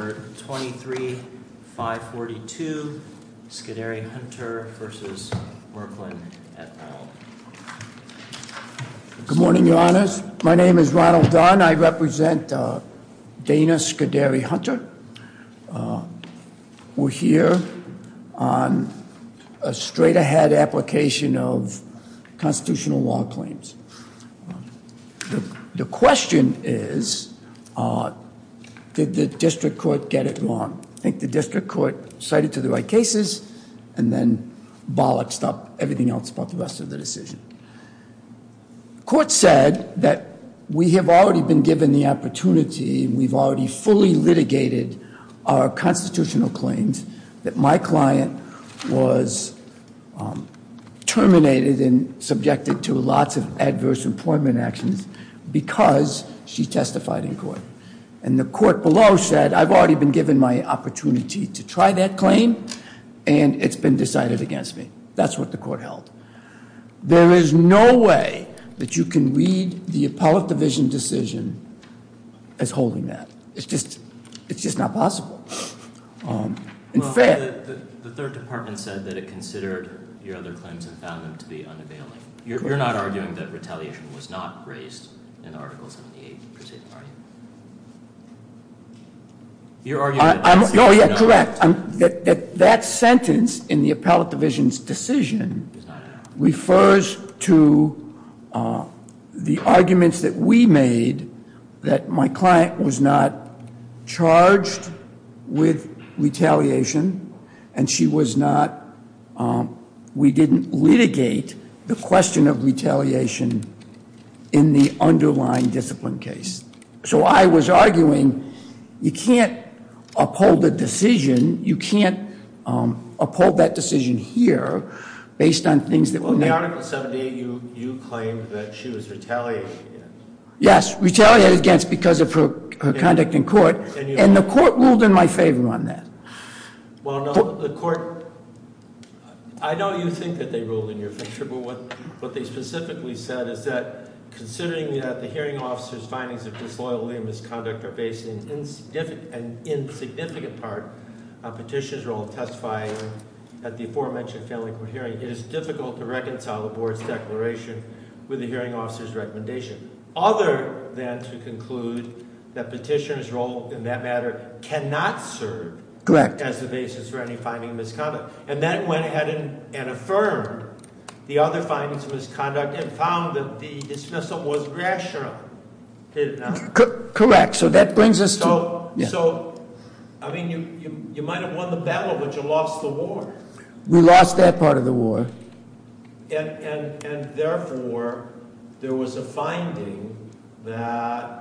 Good morning, your honors. My name is Ronald Dunn. I represent Dana Scuderi-Hunter. We're here on a straight-ahead application of constitutional law claims. The question is, did the district court get it wrong? I think the district court cited to the right cases and then bollocks up everything else about the rest of the decision. Court said that we have already been given the opportunity, we've already fully litigated our constitutional claims, that my client was terminated and subjected to lots of adverse employment actions because she testified in given my opportunity to try that claim and it's been decided against me. That's what the court held. There is no way that you can read the appellate division decision as holding that. It's just not possible. The third department said that it considered your other claims and found them to be unavailable. You're not arguing that retaliation was not raised in Article 78, are you? You're arguing that that sentence in the appellate division's decision refers to the arguments that we made that my client was not charged with retaliation and she was not, we didn't litigate the question of retaliation in the underlying discipline case. So I was arguing you can't uphold the decision, you can't uphold that decision here based on things that were there. In Article 78, you claimed that she was retaliated against. Yes, retaliated against because of her misconduct in court and the court ruled in my favor on that. Well, no, the court, I know you think that they ruled in your favor, but what they specifically said is that considering that the hearing officer's findings of disloyalty and misconduct are based in an insignificant part on petitioner's role in testifying at the aforementioned family court hearing, it is difficult to reconcile the board's declaration with the hearing officer's recommendation, other than to conclude that petitioner's role in that matter cannot serve as the basis for any finding of misconduct. And then went ahead and affirmed the other findings of misconduct and found that the dismissal was rational. Correct, so that brings us to- So, I mean, you might have won the battle, but you lost the war. We lost that part of the war. And therefore, there was a finding that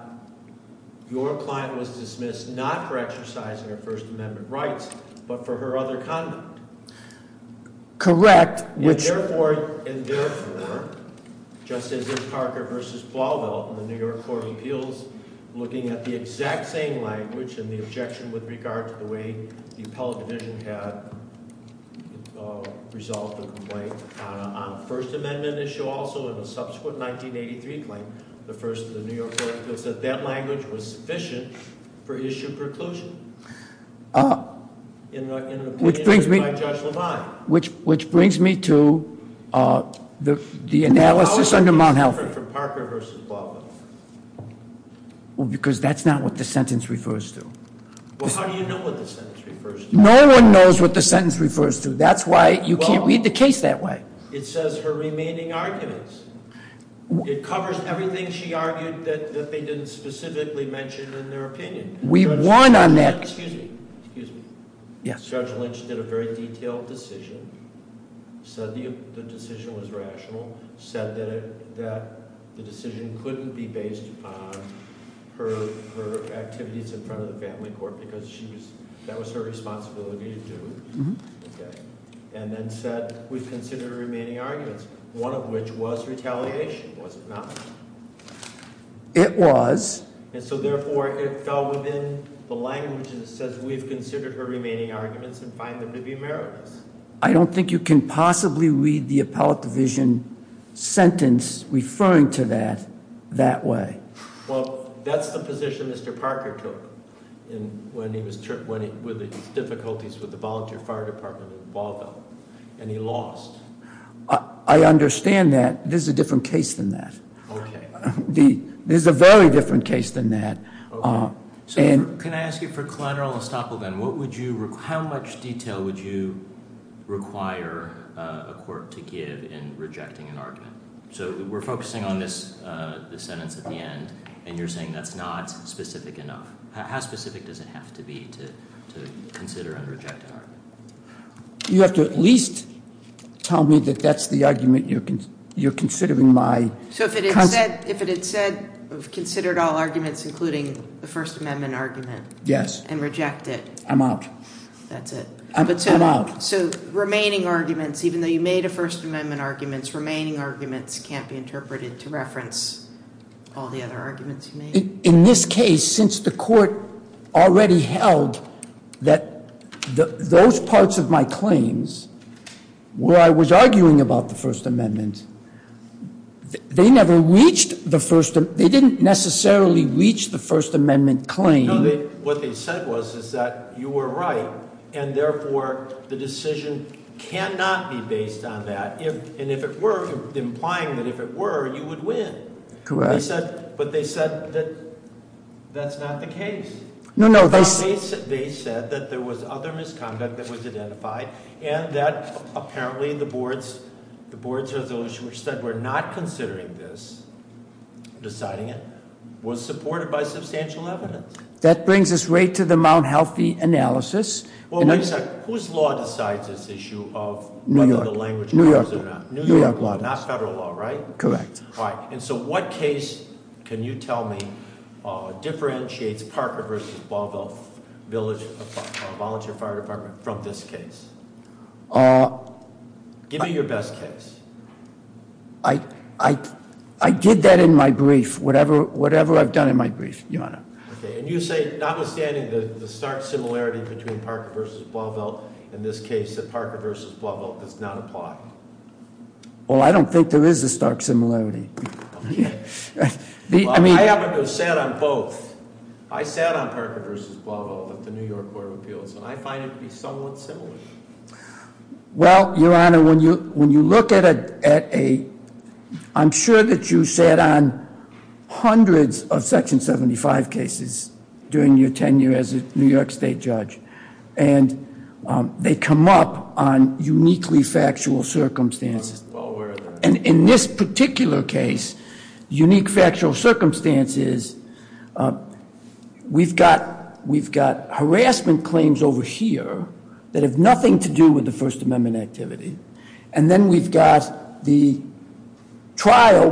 your client was dismissed not for exercising her First Amendment rights, but for her other conduct. Correct, which- And therefore, Justice Parker versus Blauvelt in the New York Court of Appeals, looking at the exact same language and the objection with regard to the way the appellate division had resolved the complaint on a First Amendment issue also in the subsequent 1983 claim, the first of the New York Court of Appeals, that that language was sufficient for issue preclusion. Which brings me to the analysis under Mount Health- How is that different from Parker versus Blauvelt? Because that's not what the sentence refers to. Well, how do you know what the sentence refers to? No one knows what the sentence refers to. That's why you can't read the case that way. It says her remaining arguments. It covers everything she argued that they didn't specifically mention in their opinion. We won on that- Excuse me, excuse me. Judge Lynch did a very detailed decision, said the decision was rational, said that the decision couldn't be based on her activities in front of the family court because that was her responsibility to do, and then said, we've considered her remaining arguments, one of which was retaliation, was it not? It was. And so therefore, it fell within the language that says we've considered her remaining arguments and find them to be meritless. I don't think you can possibly read the appellate division sentence referring to that that way. Well, that's the position Mr. Parker took when he was- with the difficulties with the volunteer fire department in Blauvelt, and he lost. I understand that. This is a different case than that. Okay. The- this is a very different case than that. So can I ask you for collateral estoppel then? What would you- how much detail would you require a court to give in rejecting an argument? So we're focusing on this sentence at the end, and you're saying that's not specific enough. How specific does it have to be to consider and reject an argument? You have to at least tell me that that's the argument you're considering my- So if it had said- if it had said we've considered all arguments, including the First Amendment argument- Yes. And rejected- I'm out. That's it. I'm out. So remaining arguments, even though you made a First Amendment arguments, remaining arguments can't be interpreted to reference all the other arguments you made? In this case, since the court already held that those parts of my claims where I was arguing about the First Amendment, they never reached the First- they didn't necessarily reach the First Amendment claim. What they said was, is that you were right, and therefore the decision cannot be based on that. And if it were, implying that if it were, you would win. Correct. But they said that that's not the case. They said that there was other misconduct that was identified, and that apparently the board's resolution, which said we're not considering this, deciding it, was supported by substantial evidence. That brings us right to the Mount Healthy analysis. Well, wait a second. Whose law decides this issue of whether the language matters or not? New York law. Not federal law, right? Correct. All right. And so what case can you tell me differentiates Parker v. Ballville Volunteer Fire Department from this case? Give me your best case. I did that in my brief, whatever I've done in my brief, Your Honor. Okay. And you say, notwithstanding the stark similarity between Parker v. Ballville and this case, that Parker v. Ballville does not apply? Well, I don't think there is a stark similarity. I haven't sat on both. I sat on Parker v. Ballville at the New York Court of Appeals, and I find it to be somewhat similar. Well, Your Honor, when you look at a, I'm sure that you sat on hundreds of Section 75 cases during your tenure as a New York State judge, and they come up on uniquely factual circumstances. And in this particular case, unique factual circumstances, we've got harassment claims over here that have nothing to do with the First Amendment activity. And then we've got the trial.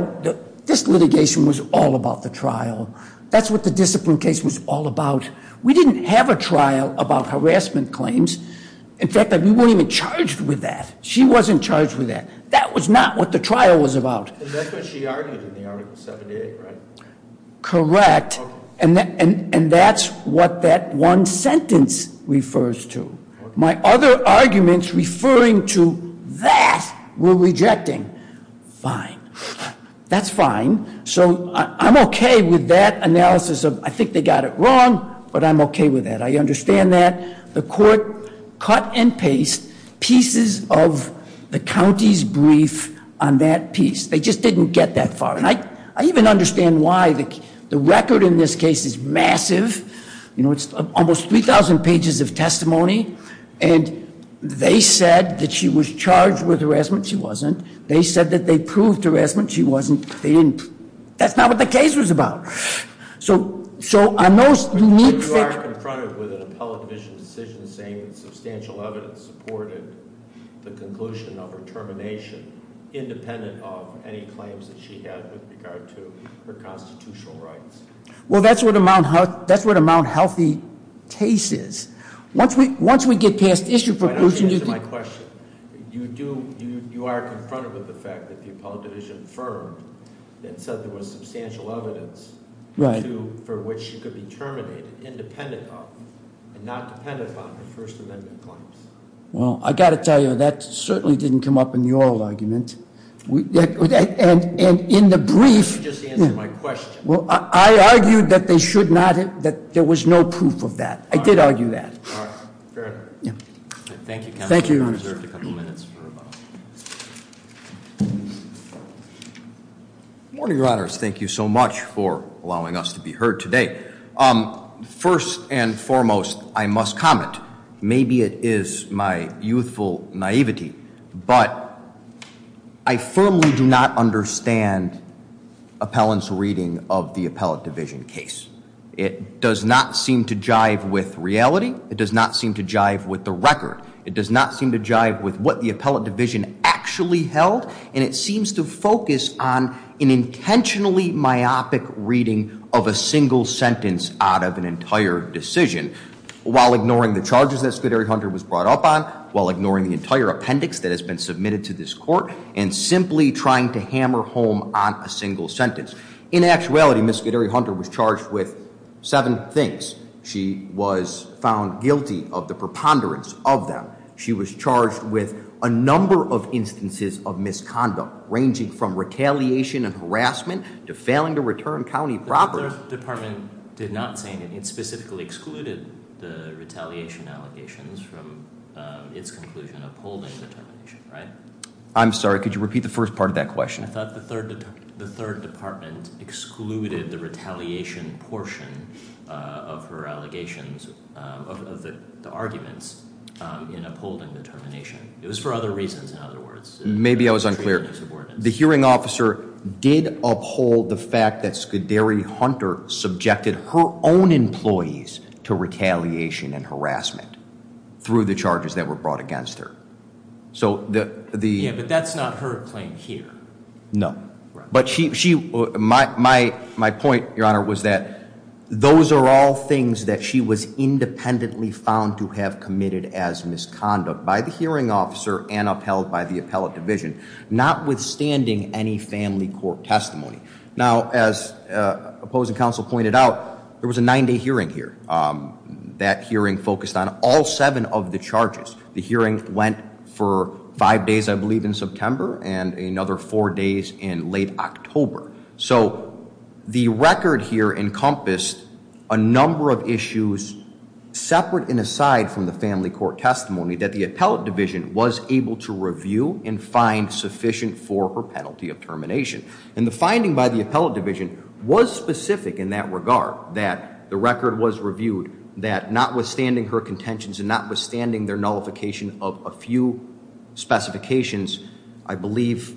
This litigation was all about the trial. That's what the discipline case was all about. We didn't have a trial about harassment claims. In fact, we weren't even charged with that. She wasn't charged with that. That was not what the trial was about. And that's what she argued in the Article 78, right? Correct. And that's what that one sentence refers to. My other arguments referring to that, we're rejecting. Fine. That's fine. So I'm okay with that analysis of, I think they got it wrong, but I'm okay with that. I understand that. The court cut and paste pieces of the county's brief on that piece. They just didn't get that far. And I even understand why the record in this case is massive. You know, it's almost 3,000 pages of testimony. And they said that she was charged with harassment. She wasn't. They said that they proved harassment. She wasn't. They didn't. That's not what the case was about. So on those unique figures- But you are confronted with an Appellate Division decision saying that substantial evidence supported the conclusion of her termination, independent of any claims that she had with regard to her constitutional rights. Well, that's what a Mount Healthy case is. Once we get past issue- Why don't you answer my question? You do, you are confronted with the fact that the Appellate Division affirmed and said there was substantial evidence for which she could be terminated, independent of and not dependent on the First Amendment claims. Well, I got to tell you, that certainly didn't come up in the oral argument. And in the brief- Why don't you just answer my question? Well, I argued that they should not, that there was no proof of that. I did argue that. All right, fair enough. Thank you, counsel. Thank you, Your Honor. You are reserved a couple minutes for rebuttal. Good morning, Your Honors. Thank you so much for allowing us to be heard today. First and foremost, I must comment. Maybe it is my youthful naivety, but I firmly do not understand appellant's reading of the Appellate Division case. It does not seem to jive with reality. It does not seem to jive with the record. It does not seem to jive with what the Appellate Division actually held. And it seems to focus on an intentionally myopic reading of a single sentence out of an entire decision, while ignoring the charges that Scuderi-Hunter was brought up on, while ignoring the entire appendix that has been submitted to this court, and simply trying to hammer home on a single sentence. In actuality, Ms. Scuderi-Hunter was charged with seven things. She was found guilty of the preponderance of them. She was charged with a number of instances of misconduct, ranging from retaliation and harassment to failing to return county property. The Department did not say anything. It specifically excluded the retaliation allegations from its conclusion of holding the termination, right? I'm sorry, could you repeat the first part of that question? I thought the third department excluded the retaliation portion of her allegations of the arguments in upholding the termination. It was for other reasons, in other words. Maybe I was unclear. The hearing officer did uphold the fact that Scuderi-Hunter subjected her own employees to retaliation and harassment through the charges that were brought against her. So the- Yeah, but that's not her claim here. No, but my point, Your Honor, was that those are all things that she was independently found to have committed as misconduct by the hearing officer and upheld by the appellate division, notwithstanding any family court testimony. Now, as opposing counsel pointed out, there was a nine-day hearing here. That hearing focused on all seven of the charges. The hearing went for five days, I believe, in September, and another four days in late October. So the record here encompassed a number of issues separate and aside from the family court testimony that the appellate division was able to review and find sufficient for her penalty of termination. And the finding by the appellate division was specific in that regard, that the record was reviewed, that notwithstanding her contentions and notwithstanding their nullification of a few specifications, I believe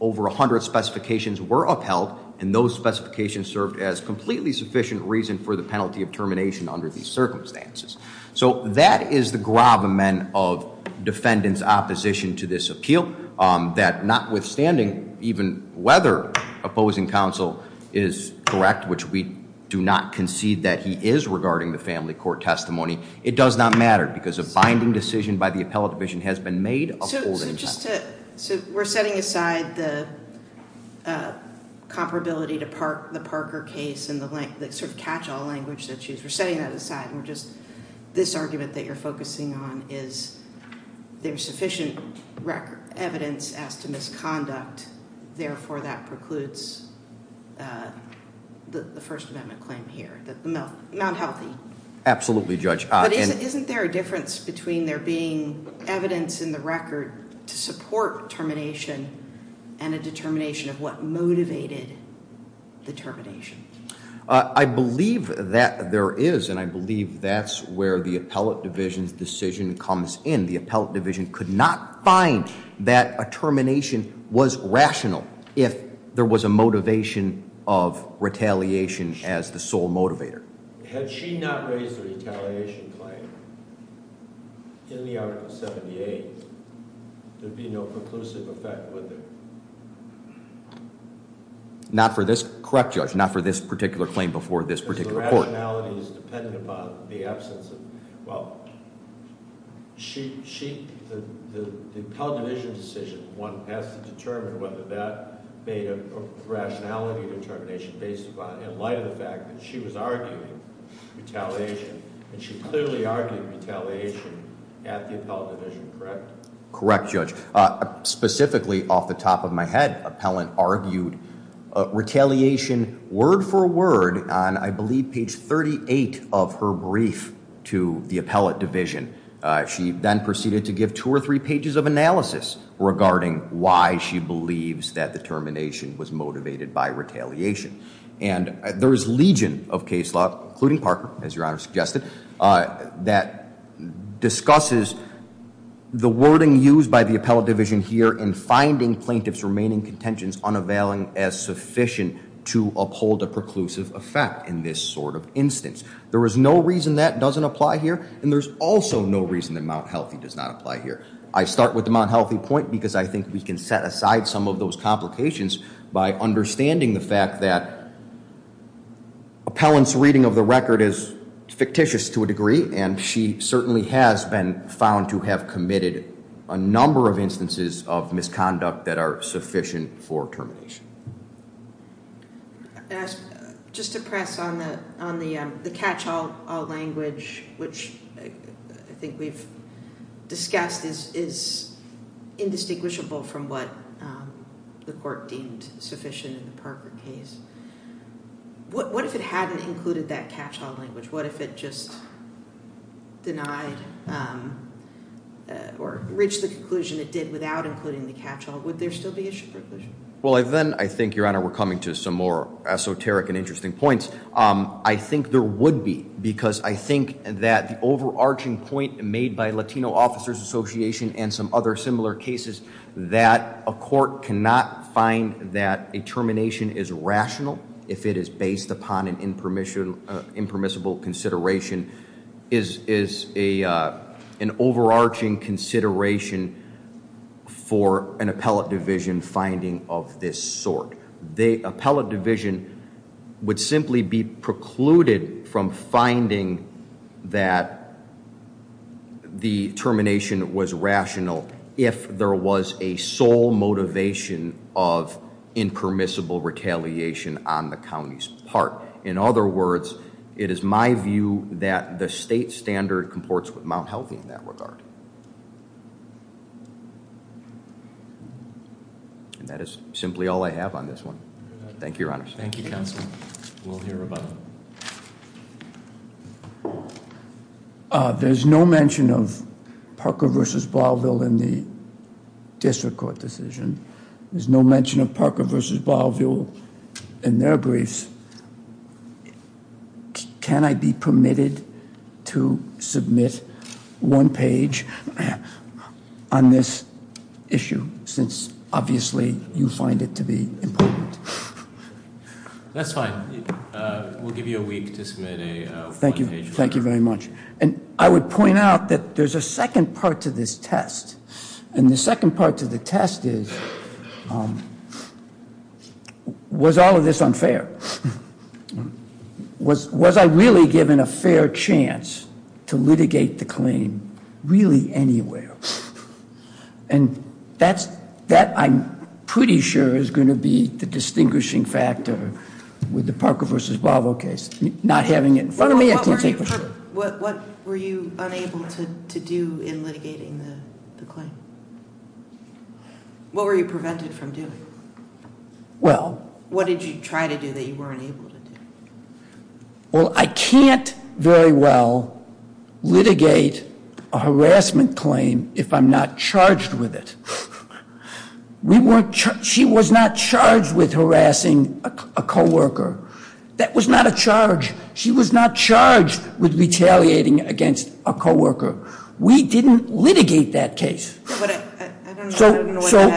over 100 specifications were upheld, and those specifications served as completely sufficient reason for the penalty of termination under these circumstances. So that is the gravamen of defendant's opposition to this appeal, that notwithstanding, even whether opposing counsel is correct, which we do not concede that he is regarding the family court testimony, it does not matter because a binding decision by the appellate division has been made opposing counsel. So we're setting aside the comparability to the Parker case and the sort of catch-all language that she used. We're setting that aside. And we're just, this argument that you're focusing on is there's sufficient evidence as to misconduct. Therefore, that precludes the First Amendment claim here, that the mouth, not healthy. Absolutely, Judge. Isn't there a difference between there being evidence in the record to support termination and a determination of what motivated the termination? I believe that there is, and I believe that's where the appellate division's decision comes in. The appellate division could not find that a termination was rational if there was a motivation of retaliation as the sole motivator. Had she not raised the retaliation claim in the article 78, there'd be no preclusive effect, would there? Not for this, correct, Judge, not for this particular claim before this particular court. Because the rationality is dependent upon the absence of, well, the appellate division decision, one has to determine whether that made a rationality determination based upon, in light of the fact that she was arguing retaliation, and she clearly argued retaliation at the appellate division, correct? Correct, Judge. Specifically, off the top of my head, appellant argued retaliation word for word on, I believe, page 38 of her brief to the appellate division. She then proceeded to give two or three pages of analysis regarding why she believes that the termination was motivated by retaliation. And there is legion of case law, including Parker, as Your Honor suggested, that discusses the wording used by the appellate division here in finding plaintiff's remaining contentions unavailing as sufficient to uphold a preclusive effect in this sort of instance. There is no reason that doesn't apply here, and there's also no reason that Mount Healthy does not apply here. I start with the Mount Healthy point because I think we can set aside some of those complications by understanding the fact that appellant's reading of the record is fictitious to a degree, and she certainly has been found to have committed a number of instances of misconduct that are sufficient for termination. Just to press on the catch-all language, which I think we've discussed is indistinguishable from what the court deemed sufficient in the Parker case. What if it hadn't included that catch-all language? What if it just denied or reached the conclusion it did without including the catch-all? Would there still be issue preclusion? Well, then I think, Your Honor, we're coming to some more esoteric and interesting points. I think there would be because I think that the overarching point made by Latino Officers Association and some other similar cases that a court cannot find that a termination is rational if it is based upon an impermissible consideration is an overarching consideration for an appellate division finding of this sort. The appellate division would simply be precluded from finding that the termination was rational if there was a sole motivation of impermissible retaliation on the county's part. In other words, it is my view that the state standard comports with Mount Healthy in that regard. And that is simply all I have on this one. Thank you, Your Honors. Thank you, Counsel. We'll hear about it. There's no mention of the district court decision. There's no mention of Parker v. Bolivial in their briefs. Can I be permitted to submit one page on this issue? Since obviously you find it to be important. That's fine. We'll give you a week to submit a page. Thank you very much. And I would point out that there's a second part to this test. And the second part to the test is was all of this unfair? Was I really given a fair chance to litigate the claim really anywhere? And that I'm pretty sure is going to be the distinguishing factor with the Parker v. Bolivial case. Not having it in front of me, I can't say for sure. What were you unable to do in litigating the claim? What were you prevented from doing? Well. What did you try to do that you weren't able to do? Well, I can't very well litigate a harassment claim if I'm not charged with it. She was not charged with harassing a co-worker. That was not a charge. She was not charged with retaliating against a co-worker. We didn't litigate that case. So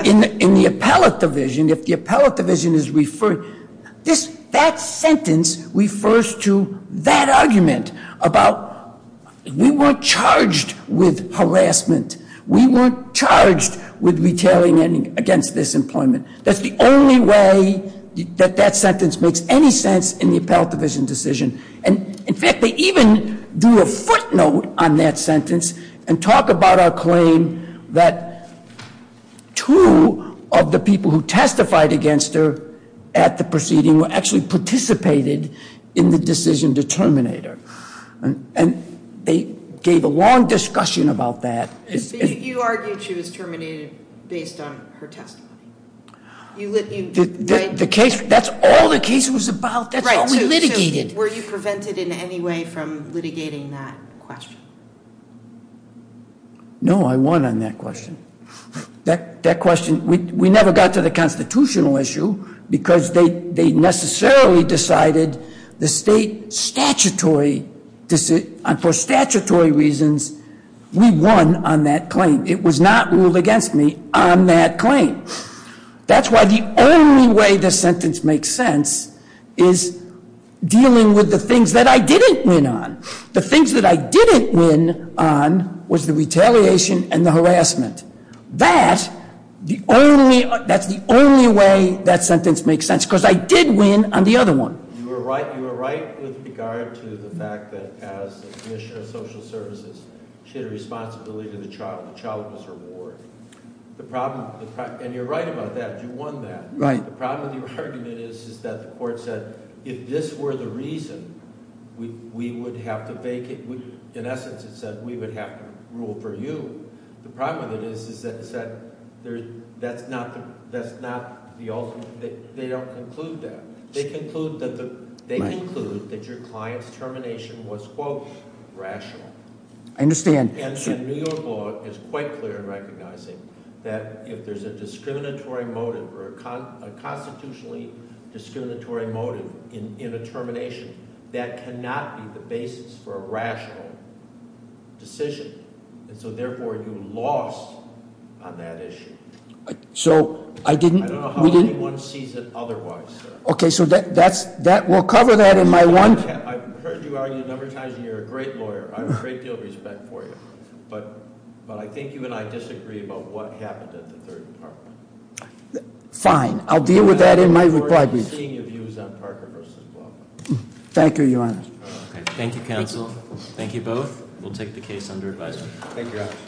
in the appellate division, if the appellate division is referred, that sentence refers to that argument about we weren't charged with harassment. We weren't charged with retaliating against this employment. That's the only way that that sentence makes any sense in the appellate division decision. And in fact, they even do a footnote on that sentence and talk about our claim that two of the people who testified against her at the proceeding were actually participated in the decision to terminate her. And they gave a long discussion about that. You argued she was terminated based on her testimony. The case. That's all the case was about. That's how we litigated. Were you prevented in any way from litigating that question? No, I won on that question. That question, we never got to the constitutional issue because they necessarily decided the state statutory, for statutory reasons, we won on that claim. It was not ruled against me on that claim. That's why the only way this sentence makes sense is dealing with the things that I didn't win on. The things that I didn't win on was the retaliation and the harassment. That's the only way that sentence makes sense because I did win on the other one. You were right. You were right with regard to the fact that as the commissioner of social services, she had a responsibility to the child. The child was her ward. And you're right about that. You won that. Right. The problem with your argument is that the court said if this were the reason, we would have to vacate. In essence, it said we would have to rule for you. The problem with it is is that it said that's not the ultimate. They don't conclude that. They conclude that your client's termination was, quote, rational. I understand. And New York law is quite clear in recognizing that if there's a discriminatory motive or a constitutionally discriminatory motive in a termination, that cannot be the basis for a rational decision. And so, therefore, you lost on that issue. So I didn't. I don't know how anyone sees it otherwise. OK, so that's that. We'll cover that in my one. I've heard you argue a number of times. And you're a great lawyer. I have a great deal of respect for you. But but I think you and I disagree about what happened Fine. I'll deal with that in my report. I'm seeing your views on Parker v. Block. Thank you, Your Honor. Thank you, counsel. Thank you both. We'll take the case under advisory. Thank you.